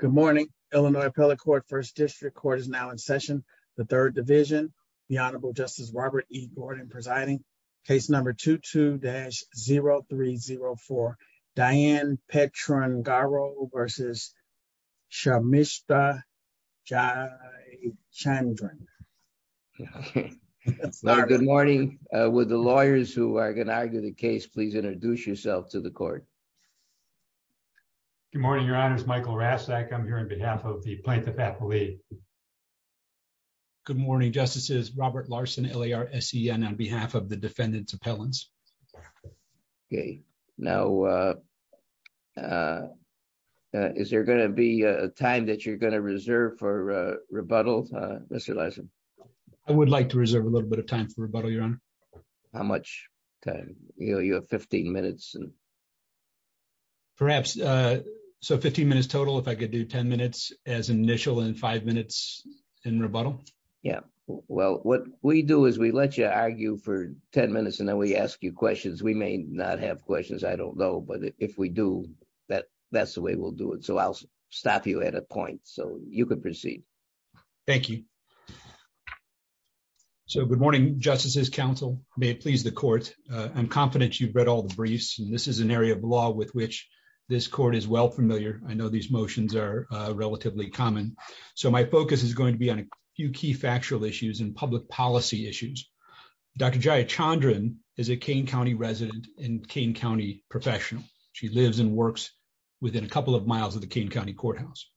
Good morning Illinois appellate court first district court is now in session the third division the honorable justice Robert E Gordon presiding case number 22-0304 Diane Petrungaro v. Jayachandran Good morning would the lawyers who are going to argue the case please introduce yourself to the I'm here on behalf of the plaintiff appellate. Good morning justices Robert Larson L.A.R.S.E.N. on behalf of the defendant's appellants. Okay now is there going to be a time that you're going to reserve for rebuttal Mr. Larson? I would like to reserve a little bit of time for rebuttal your honor. How much time you know you have 15 minutes and perhaps so 15 minutes total if I could do 10 minutes as initial and five minutes in rebuttal. Yeah well what we do is we let you argue for 10 minutes and then we ask you questions we may not have questions I don't know but if we do that that's the way we'll do it so I'll stop you at a point so you can proceed. Thank you so good morning justices counsel may it please the court I'm confident you've read all the briefs and this is an area of law with which this court is well familiar I know these motions are relatively common so my focus is going to be on a few key factual issues and public policy issues. Dr. Jaya Chandran is a Kane County resident and Kane County professional she lives and works within a couple of miles of the Kane County courthouse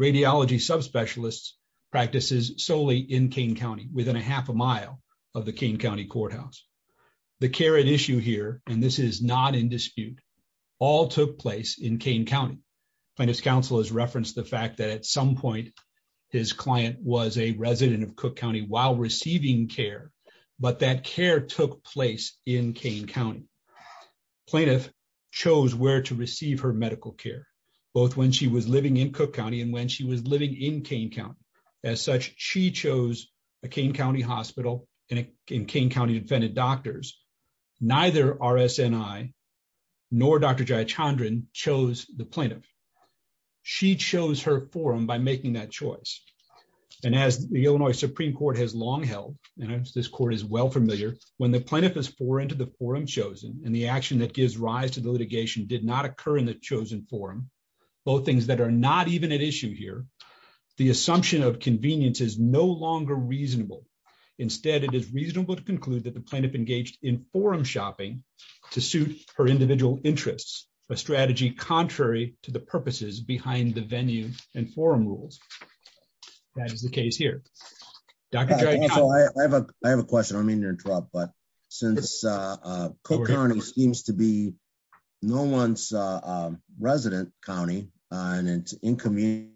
radiology subspecialists practices solely in Kane County within a half a mile of the Kane County courthouse. The care at issue here and this is not in dispute all took place in Kane County plaintiff's counsel has referenced the fact that at some point his client was a resident of Cook County while receiving care but that care took place in Kane County plaintiff chose where to receive her medical care both when she was living in Cook County and when she was living in Kane as such she chose a Kane County hospital and in Kane County defended doctors neither RSNI nor Dr. Jaya Chandran chose the plaintiff she chose her forum by making that choice and as the Illinois Supreme Court has long held and as this court is well familiar when the plaintiff is foreign to the forum chosen and the action that gives rise to the litigation did not is no longer reasonable instead it is reasonable to conclude that the plaintiff engaged in forum shopping to suit her individual interests a strategy contrary to the purposes behind the venue and forum rules that is the case here. I have a question I don't mean to interrupt but since Cook County seems to be no one's resident county and it's inconvenient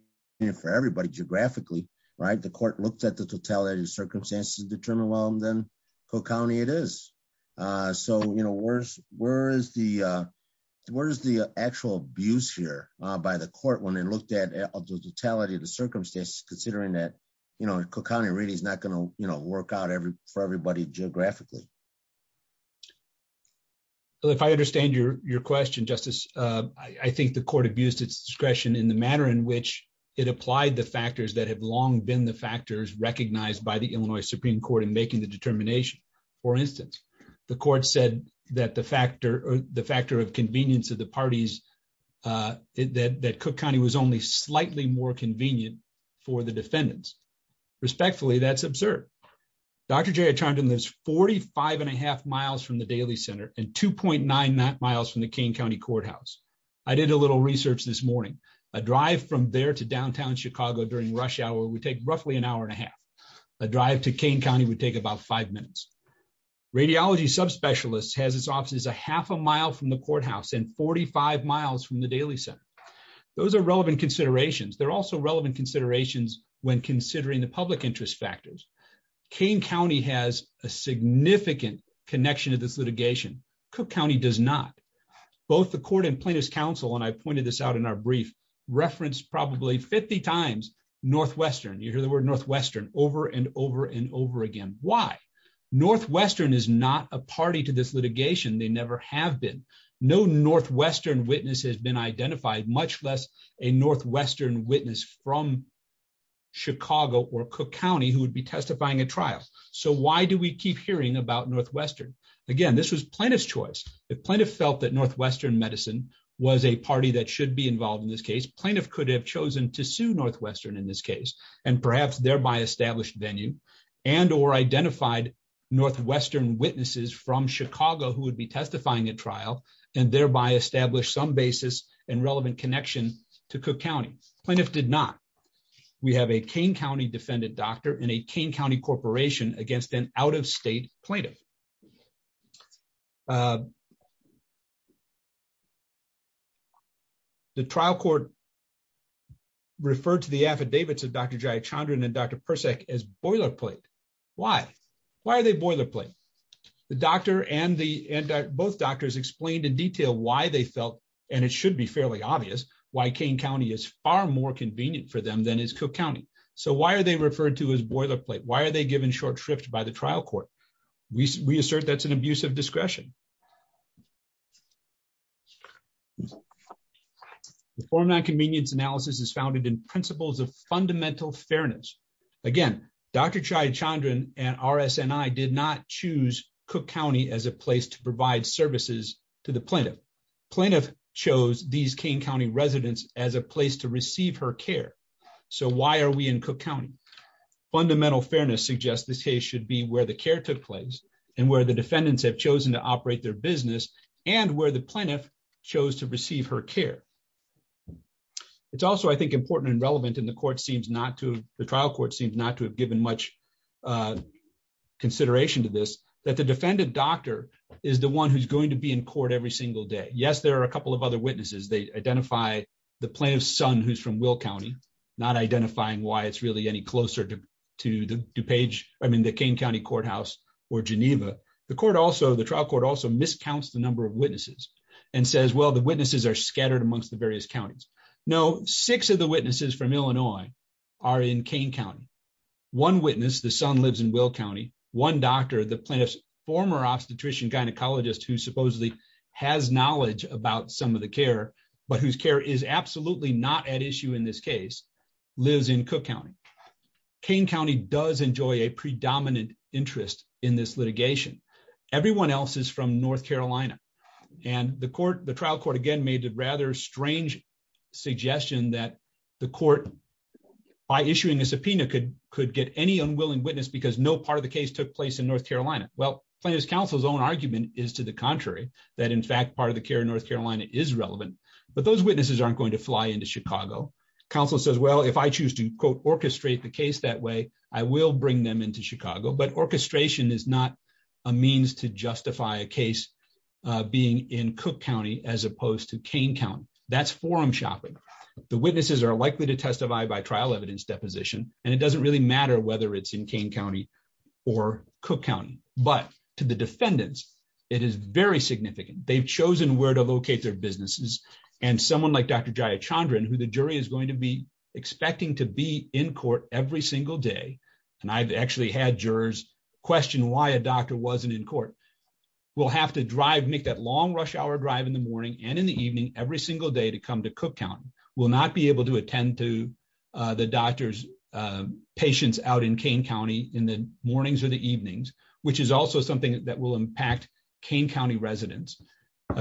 for everybody geographically right the court looked at the totality of circumstances determined well then Cook County it is so you know where's where is the where's the actual abuse here by the court when they looked at the totality of the circumstances considering that you know Cook County really is not going to you know work out every for everybody geographically. If I understand your your question justice I think the court abused its discretion in the the factors that have long been the factors recognized by the Illinois Supreme Court in making the determination. For instance the court said that the factor the factor of convenience of the parties that that Cook County was only slightly more convenient for the defendants. Respectfully that's absurd. Dr. Jarrett Charmden lives 45 and a half miles from the Daly Center and 2.9 miles from the Kane County Courthouse. I did a little research this morning a drive from there to downtown Chicago during rush hour would take roughly an hour and a half. A drive to Kane County would take about five minutes. Radiology subspecialists has its offices a half a mile from the courthouse and 45 miles from the Daly Center. Those are relevant considerations. They're also relevant considerations when considering the public interest factors. Kane County has a significant connection to this litigation. Cook County does not. Both the court and plaintiff's in our brief referenced probably 50 times Northwestern. You hear the word Northwestern over and over and over again. Why? Northwestern is not a party to this litigation. They never have been. No Northwestern witness has been identified much less a Northwestern witness from Chicago or Cook County who would be testifying at trial. So why do we keep hearing about Northwestern? Again this was plaintiff's choice. If plaintiff felt that Northwestern medicine was a party that should be involved in this case, plaintiff could have chosen to sue Northwestern in this case and perhaps thereby established venue and or identified Northwestern witnesses from Chicago who would be testifying at trial and thereby establish some basis and relevant connection to Cook County. Plaintiff did not. We have a Kane County defendant doctor in a Kane County corporation against an out-of-state plaintiff. The trial court referred to the affidavits of Dr. Jayachandran and Dr. Persak as boilerplate. Why? Why are they boilerplate? The doctor and the both doctors explained in detail why they felt, and it should be fairly obvious, why Kane County is far more convenient for them than is Cook County. So why are they referred to as boilerplate? Why are they given short shrift by the trial court? We assert that's an abuse of discretion. The form non-convenience analysis is founded in principles of fundamental fairness. Again, Dr. Jayachandran and RSNI did not choose Cook County as a place to provide services to the plaintiff. Plaintiff chose these Kane County residents as a place to receive her care. So why are we in Cook County? Fundamental fairness suggests this case should be where the care took place and where the defendants have chosen to operate their business and where the plaintiff chose to receive her care. It's also, I think, important and relevant, and the trial court seems not to have given much consideration to this, that the defendant doctor is the one who's going to be in court every single day. Yes, there are a couple of other witnesses. They identify the plaintiff's son, who's from Will County, not identifying why it's really any closer to the DuPage, I mean, the Kane County courthouse or Geneva. The trial court also miscounts the number of witnesses and says, well, the witnesses are scattered amongst the various counties. No, six of the witnesses from Illinois are in Kane County. One witness, the son lives in Will County. One doctor, the plaintiff's former obstetrician gynecologist, who supposedly has knowledge about some of the care, but whose care is absolutely not at issue in this case, lives in Cook County. Kane County does enjoy a predominant interest in this litigation. Everyone else is from North Carolina, and the trial court again made a rather strange suggestion that the court, by issuing a subpoena, could get any unwilling witness because no part of the case took place in North Carolina. Well, plaintiff's counsel's own argument is to the that, in fact, part of the care in North Carolina is relevant, but those witnesses aren't going to fly into Chicago. Counsel says, well, if I choose to, quote, orchestrate the case that way, I will bring them into Chicago, but orchestration is not a means to justify a case being in Cook County, as opposed to Kane County. That's forum shopping. The witnesses are likely to testify by trial evidence deposition, and it doesn't really matter whether it's in Kane County or Cook County, but to the defendants, it is very significant. They've chosen where to locate their businesses, and someone like Dr. Jayachandran, who the jury is going to be expecting to be in court every single day, and I've actually had jurors question why a doctor wasn't in court, will have to drive, make that long rush hour drive in the morning and in the evening every single day to come to Cook County, will not be able to attend to the doctor's patients out in Kane County in the mornings or the that will impact Kane County residents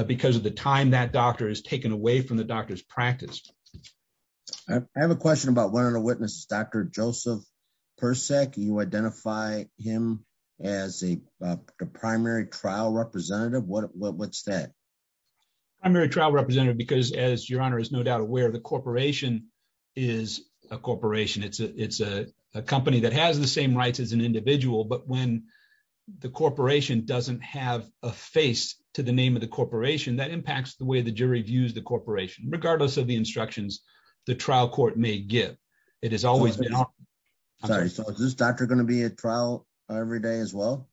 because of the time that doctor is taken away from the doctor's practice. I have a question about one of the witnesses, Dr. Joseph Persek. You identify him as a primary trial representative. What's that? Primary trial representative, because as your honor is no doubt aware, the corporation is a corporation. It's a company that has the rights as an individual, but when the corporation doesn't have a face to the name of the corporation, that impacts the way the jury views the corporation, regardless of the instructions the trial court may give. It has always been. Sorry, so is this doctor going to be at trial every day as well?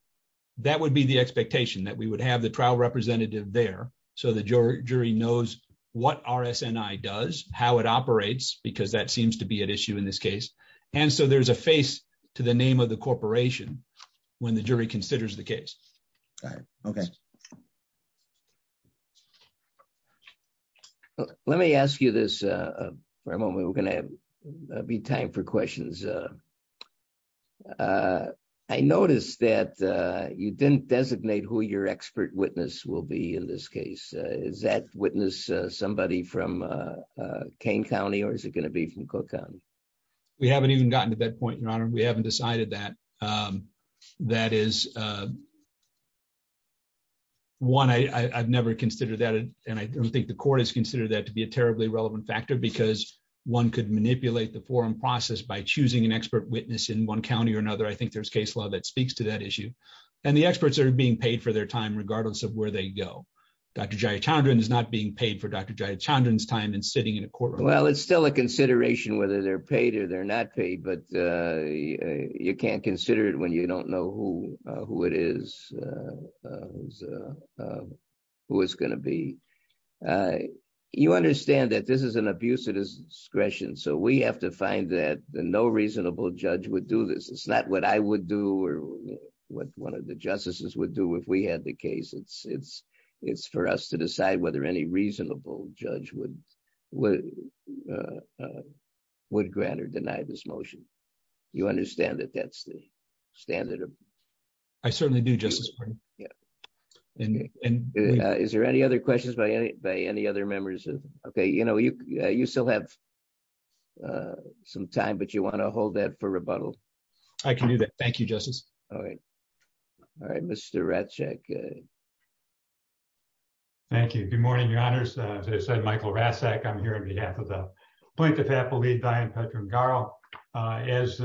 That would be the expectation, that we would have the trial representative there so the jury knows what RSNI does, how it operates, because that seems to be at issue in this case, and so there's a face to the name of the corporation when the jury considers the case. Let me ask you this for a moment. We're going to be time for questions. I noticed that you didn't designate who your expert witness will be in this case. Is that somebody from Kane County, or is it going to be from Cook County? We haven't even gotten to that point, your honor. We haven't decided that. One, I've never considered that, and I don't think the court has considered that to be a terribly relevant factor, because one could manipulate the forum process by choosing an expert witness in one county or another. I think there's case law that speaks to that issue, and the experts are being paid for their time, regardless of where they go. Dr. Jayachandran is not being paid for Dr. Jayachandran's time in sitting in a courtroom. Well, it's still a consideration whether they're paid or they're not paid, but you can't consider it when you don't know who it is, who it's going to be. You understand that this is an abuse of discretion, so we have to find that. No reasonable judge would do this. It's not what I would do or what one of the justices would do if had the case. It's for us to decide whether any reasonable judge would grant or deny this motion. You understand that that's the standard? I certainly do, Justice Breyer. Is there any other questions by any other members? Okay, you still have some time, but you want to hold that for rebuttal? I can do that. Thank you, Justice. All right. All right, Mr. Raczek. Thank you. Good morning, Your Honors. As I said, Michael Raczek. I'm here on behalf of the point of faculty, Diane Pedram-Garl. As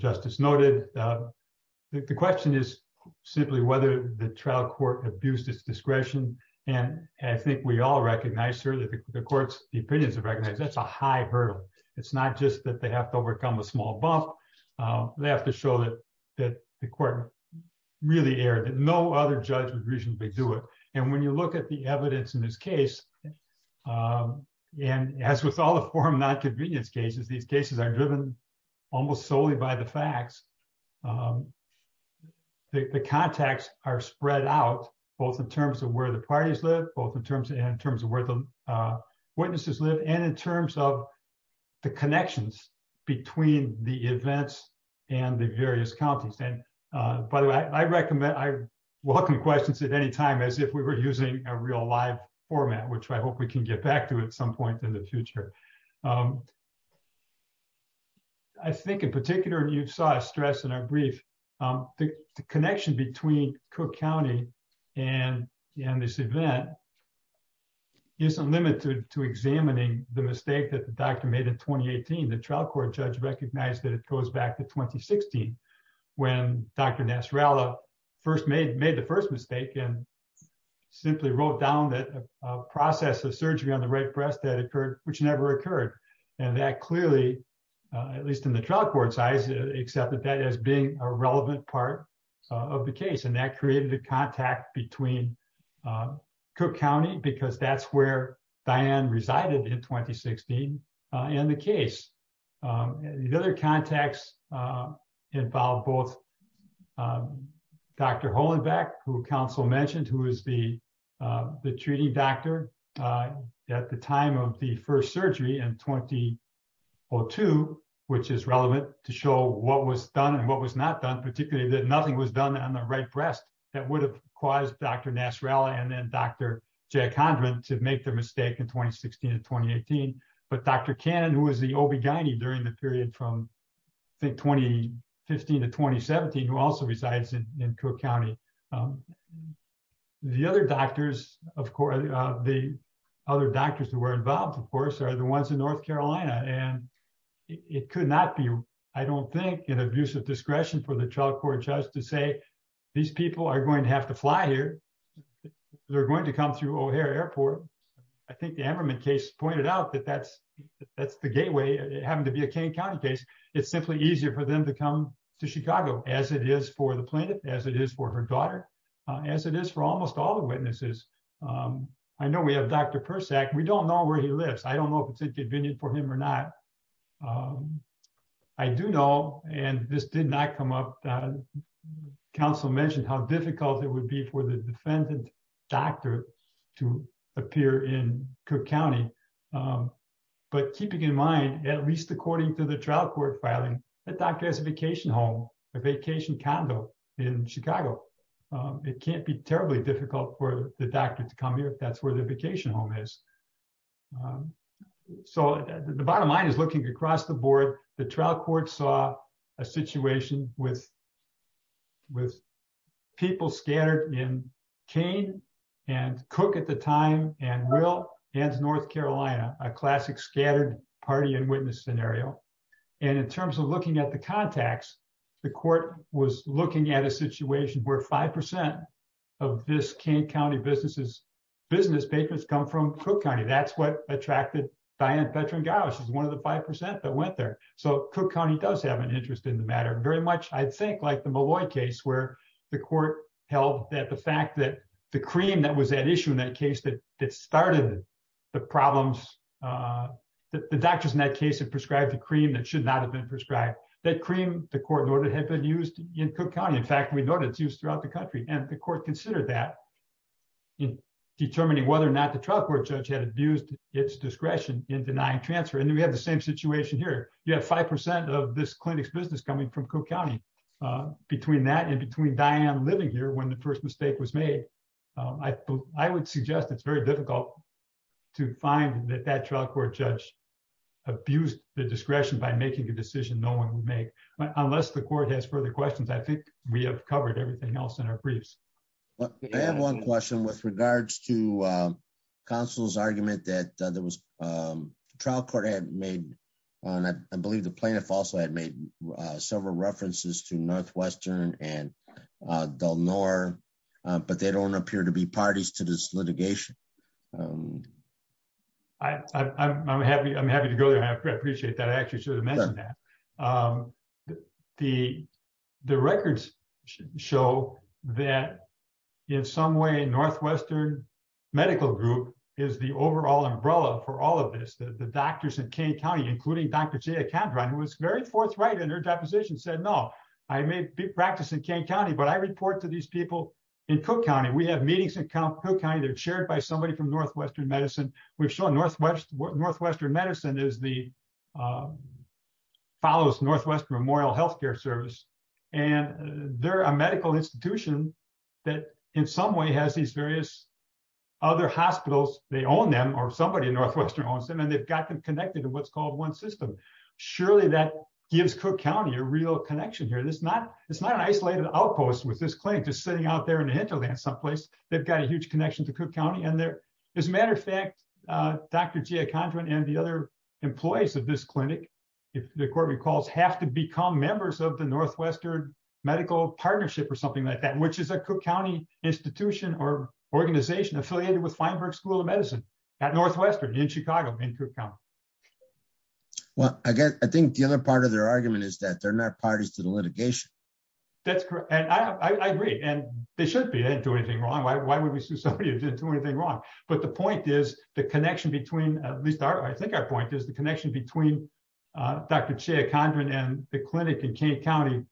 Justice noted, the question is simply whether the trial court abused its discretion, and I think we all recognize, certainly the courts, the opinions have recognized that's a high hurdle. It's not just that they have to overcome a small buff. They have to show that the court really erred. No other judge would reasonably do it, and when you look at the evidence in this case, and as with all the forum nonconvenience cases, these cases are driven almost solely by the facts. The contacts are spread out, both in terms of where the parties live, both in terms of where the parties live, and in terms of the connections between the events and the various counties. By the way, I welcome questions at any time as if we were using a real live format, which I hope we can get back to at some point in the future. I think in particular, and you saw a stress in our brief, the connection between Cook County and this event isn't limited to examining the mistake that the doctor made in 2018. The trial court judge recognized that it goes back to 2016, when Dr. Nasrallah first made the first mistake and simply wrote down the process of surgery on the right breast that occurred, which never occurred. That clearly, at least in the trial court's eyes, accepted that as being a relevant part of the case. That created a contact between Cook County, because that's where Diane resided in 2016, and the case. The other contacts involved both Dr. Hollenbeck, who counsel mentioned, who is the treating doctor at the time of the first surgery in 2002, which is relevant to show what was done and what was not done, particularly that nothing was done on the right breast that would have caused Dr. Nasrallah and then Dr. Jack Hondren to make the mistake in 2016 and 2018, but Dr. Cannon, who was the OB-GYN during the period from I think 2015 to 2017, who also resides in Cook County. The other doctors, of course, the other in North Carolina, and it could not be, I don't think, an abusive discretion for the trial court judge to say, these people are going to have to fly here. They're going to come through O'Hare Airport. I think the Emberman case pointed out that that's the gateway. It happened to be a Kane County case. It's simply easier for them to come to Chicago, as it is for the plaintiff, as it is for her daughter, as it is for almost all the witnesses. I know we have Dr. Persak. We don't know where he lives. I don't know if it's inconvenient for him or not. I do know, and this did not come up, Council mentioned how difficult it would be for the defendant doctor to appear in Cook County, but keeping in mind, at least according to the trial court filing, the doctor has a vacation home, a vacation condo in Chicago. It can't be terribly difficult for the doctor to come here if that's where the vacation home is. So the bottom line is, looking across the board, the trial court saw a situation with people scattered in Kane and Cook at the time and Will and North Carolina, a classic scattered party and witness scenario. And in terms of looking at the contacts, the court was looking at a situation where five percent of this Kane County businesses business patrons come from Cook County. That's what attracted Diane Petring-Gouw. She's one of the five percent that went there. So Cook County does have an interest in the matter, very much, I think, like the Malloy case where the court held that the fact that the cream that was at issue in that case that started the problems, the doctors in that case had prescribed the cream that should not have been prescribed. That cream, the court noted, had been used in Cook County. In fact, we considered that in determining whether or not the trial court judge had abused its discretion in denying transfer. And we have the same situation here. You have five percent of this clinic's business coming from Cook County. Between that and between Diane living here when the first mistake was made, I would suggest it's very difficult to find that that trial court judge abused the discretion by making a decision no one would make unless the court has further questions. I think we have covered everything else in our briefs. I have one question with regards to counsel's argument that there was a trial court had made, and I believe the plaintiff also had made several references to Northwestern and Del Nor, but they don't appear to be parties to this litigation. I'm happy to go there. I appreciate that. I actually should have mentioned that. But the records show that in some way Northwestern Medical Group is the overall umbrella for all of this. The doctors in Kane County, including Dr. Jaya Kandran, who was very forthright in her deposition, said, no, I may practice in Kane County, but I report to these people in Cook County. We have meetings in Cook County. They're chaired by somebody from Northwestern Medicine. We've shown Northwestern Medicine follows Northwest Memorial Health Care Service, and they're a medical institution that in some way has these various other hospitals. They own them, or somebody in Northwestern owns them, and they've got them connected to what's called one system. Surely that gives Cook County a real connection here. It's not an isolated outpost with this claim, just sitting out there in the hinterland someplace. They've got a huge connection to Cook County. As a matter of fact, Dr. Jaya Kandran and the other employees of this clinic, if the court recalls, have to become members of the Northwestern Medical Partnership or something like that, which is a Cook County institution or organization affiliated with Feinberg School of Medicine at Northwestern in Chicago, in Cook County. Well, I think the other part of their argument is that they're not parties to the litigation. That's correct. I agree, and they should be. They didn't do anything wrong. Why would we sue somebody who didn't do anything wrong? But the point is, the connection between, at least I think our point is, the connection between Dr. Jaya Kandran and the clinic in Kane County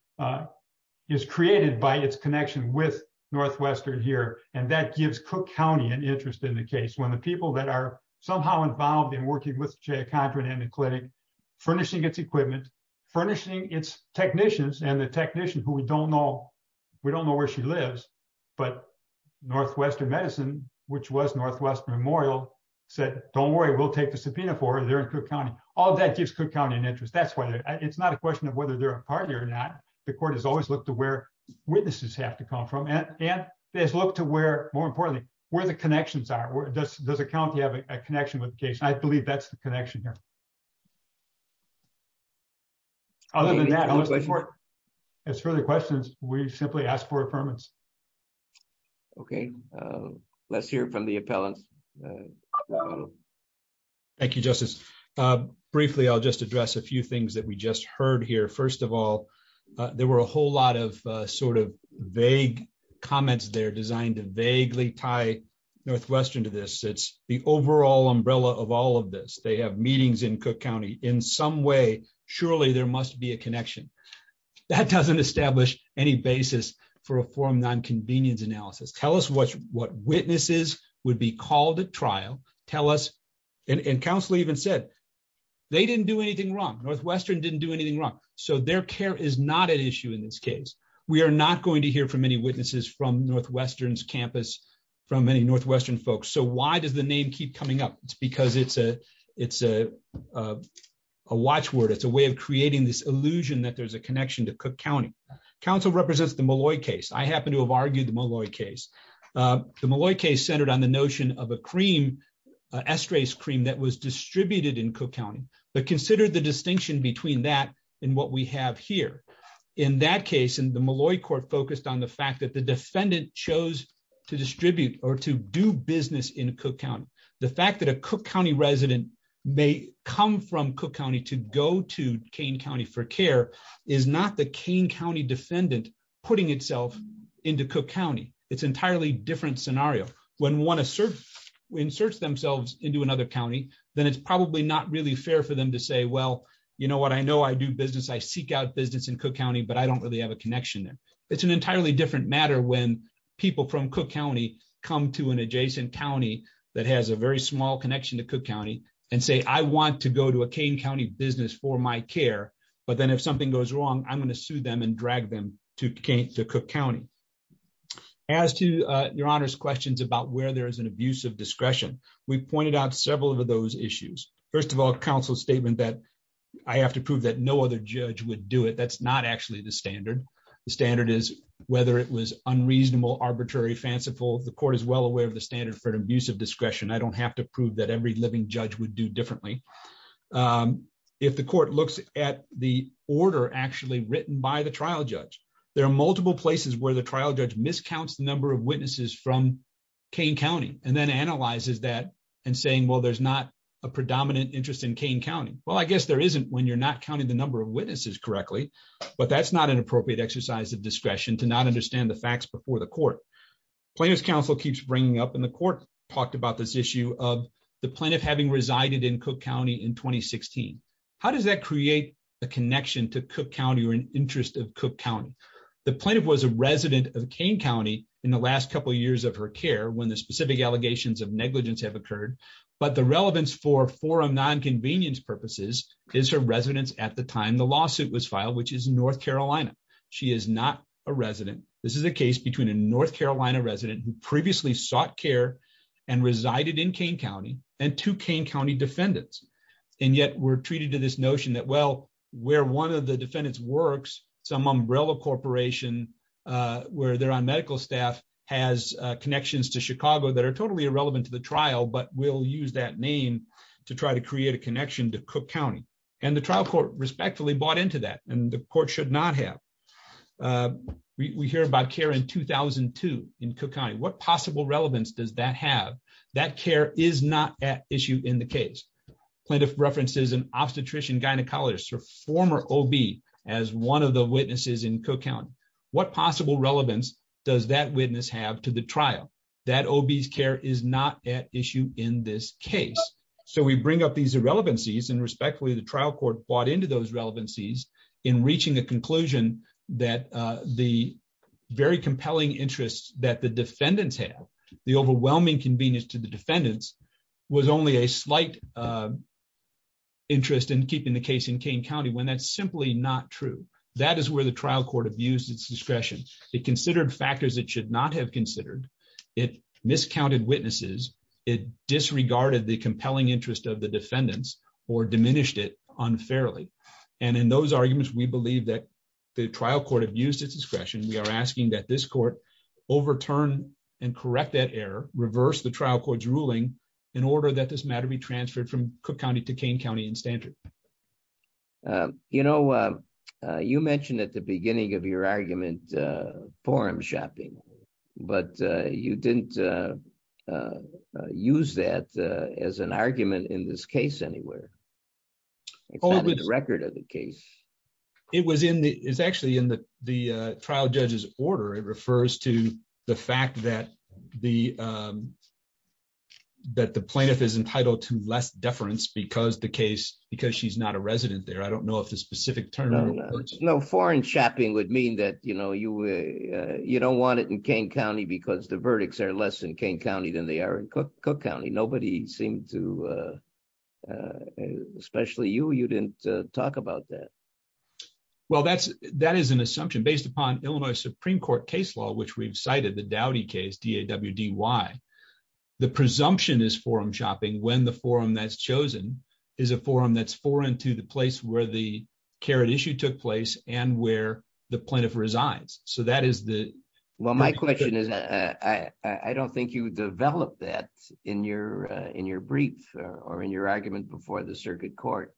is created by its connection with Northwestern here, and that gives Cook County an interest in the case. When the people that are somehow involved in working with Jaya Kandran and the clinic, furnishing its equipment, furnishing its technicians, and the technician, who we don't know, we don't know where she lives, but Northwestern Medicine, which was Northwest Memorial, said, don't worry, we'll take the subpoena for her. They're in Cook County. All that gives Cook County an interest. That's why it's not a question of whether they're a party or not. The court has always looked to where witnesses have to come from, and has looked to where, more importantly, where the connections are. Does the county have a connection with the case? I believe that's the connection here. Other than that, as for the questions, we simply ask for affirmance. Okay, let's hear from the appellants. Thank you, Justice. Briefly, I'll just address a few things that we just heard here. First of all, there were a whole lot of sort of vague comments that are designed to vaguely tie Northwestern to this. It's the overall umbrella of all of this. They have meetings in Cook County. In some way, surely there must be a connection. That doesn't establish any basis for a forum non-convenience analysis. Tell us what witnesses would be called at trial. Tell us, and counsel even said, they didn't do anything wrong. Northwestern didn't do anything wrong. So their care is not an issue in this case. We are not going to hear from any Northwestern's campus, from any Northwestern folks. So why does the name keep coming up? It's because it's a watchword. It's a way of creating this illusion that there's a connection to Cook County. Counsel represents the Molloy case. I happen to have argued the Molloy case. The Molloy case centered on the notion of a cream, esterase cream, that was distributed in Cook County, but consider the distinction between that and what we have here. In that case, and the Molloy court focused on the that the defendant chose to distribute or to do business in Cook County. The fact that a Cook County resident may come from Cook County to go to Kane County for care is not the Kane County defendant putting itself into Cook County. It's an entirely different scenario. When we want to insert themselves into another county, then it's probably not really fair for them to say, well, you know what, I know I do business. I seek out business in Cook County, but I don't really have a connection there. It's an entirely different matter when people from Cook County come to an adjacent county that has a very small connection to Cook County and say, I want to go to a Kane County business for my care, but then if something goes wrong, I'm going to sue them and drag them to Kane, to Cook County. As to your honor's questions about where there is an abuse of discretion, we pointed out several of those issues. First of all, counsel's statement that I have to prove that no other judge would do it, that's not actually the standard. The standard is whether it was unreasonable, arbitrary, fanciful, the court is well aware of the standard for an abuse of discretion. I don't have to prove that every living judge would do differently. If the court looks at the order actually written by the trial judge, there are multiple places where the trial judge miscounts the number of witnesses from Kane County and then analyzes that and saying, well, there's not a predominant interest in Kane County. Well, there isn't when you're not counting the number of witnesses correctly, but that's not an appropriate exercise of discretion to not understand the facts before the court. Plaintiff's counsel keeps bringing up and the court talked about this issue of the plaintiff having resided in Cook County in 2016. How does that create a connection to Cook County or an interest of Cook County? The plaintiff was a resident of Kane County in the last couple of years of her care when the specific allegations of negligence have occurred, but the relevance for forum nonconvenience purposes is her residence at the time the lawsuit was filed, which is North Carolina. She is not a resident. This is a case between a North Carolina resident who previously sought care and resided in Kane County and two Kane County defendants. And yet we're treated to this notion that, well, where one of the defendants works, some umbrella corporation where they're on medical staff has connections to Chicago that are totally to try to create a connection to Cook County. And the trial court respectfully bought into that and the court should not have. We hear about care in 2002 in Cook County. What possible relevance does that have? That care is not at issue in the case. Plaintiff references an obstetrician gynecologist or former OB as one of the witnesses in Cook County. What possible relevance does that witness have to the trial that OB's care is not at issue in this case? So we bring up these irrelevancies and respectfully, the trial court bought into those relevancies in reaching a conclusion that the very compelling interests that the defendants have, the overwhelming convenience to the defendants was only a slight interest in keeping the case in Kane County when that's simply not true. That is where the trial court abused its discretion. It considered factors it should not have considered. It miscounted witnesses. It disregarded the compelling interest of the defendants or diminished it unfairly. And in those arguments, we believe that the trial court abused its discretion. We are asking that this court overturn and correct that error, reverse the trial court's ruling in order that this matter be transferred from Cook County to Kane County in standard. You know, you mentioned at the beginning of your argument, forum shopping, but you didn't use that as an argument in this case anywhere. It's not in the record of the case. It's actually in the trial judge's order. It refers to the fact that the plaintiff is entitled to less deference because the case, because she's not a resident there. I don't know if the specific term. No, foreign shopping would mean that, you know, you don't want it in Kane County because the verdicts are less in Kane County than they are in Cook County. Nobody seemed to, especially you, you didn't talk about that. Well, that is an assumption based upon Illinois Supreme Court case law, which we've cited, the Dowdy case, D-A-W-D-Y. The presumption is forum shopping when the forum that's chosen is a forum that's foreign to the place where the carrot issue took place and where the plaintiff resides. So that is the. Well, my question is, I don't think you would develop that in your brief or in your argument before the circuit court,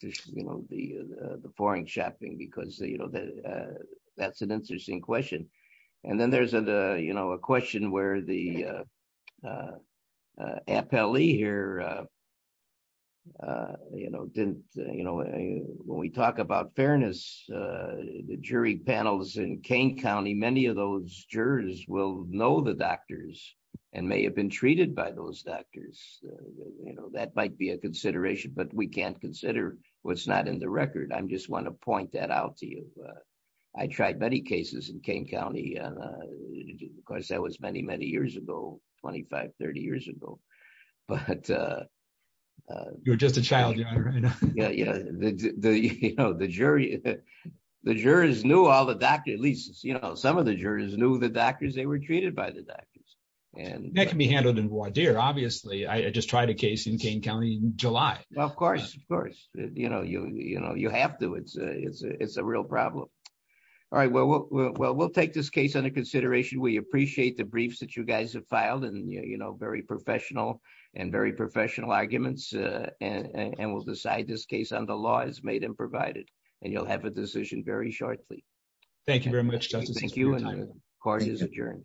you know, the foreign shopping, because, you know, that's an interesting question. And then there's the, you know, a question where the appellee here. You know, didn't you know, when we talk about fairness, the jury panels in Kane County, many of those jurors will know the doctors and may have been treated by those doctors. You know, that might be a consideration, but we can't consider what's not in the record. I just want to point that out to you. I tried many cases in Kane County. Of course, that was many, many years ago, 25, 30 years ago. But. You're just a child, your honor. Yeah. You know, the jury, the jurors knew all the doctors, at least, you know, some of the jurors knew the doctors. They were treated by the doctors. That can be handled in voir dire, obviously. I just tried a case in Kane County in July. Well, of course, of course, you know, you have to. It's a real problem. All right. Well, we'll take this case into consideration. We appreciate the briefs that you guys have filed and, you know, very professional and very professional arguments. And we'll decide this case on the law as made and provided. And you'll have a decision very shortly. Thank you very much. Thank you. Court is adjourned.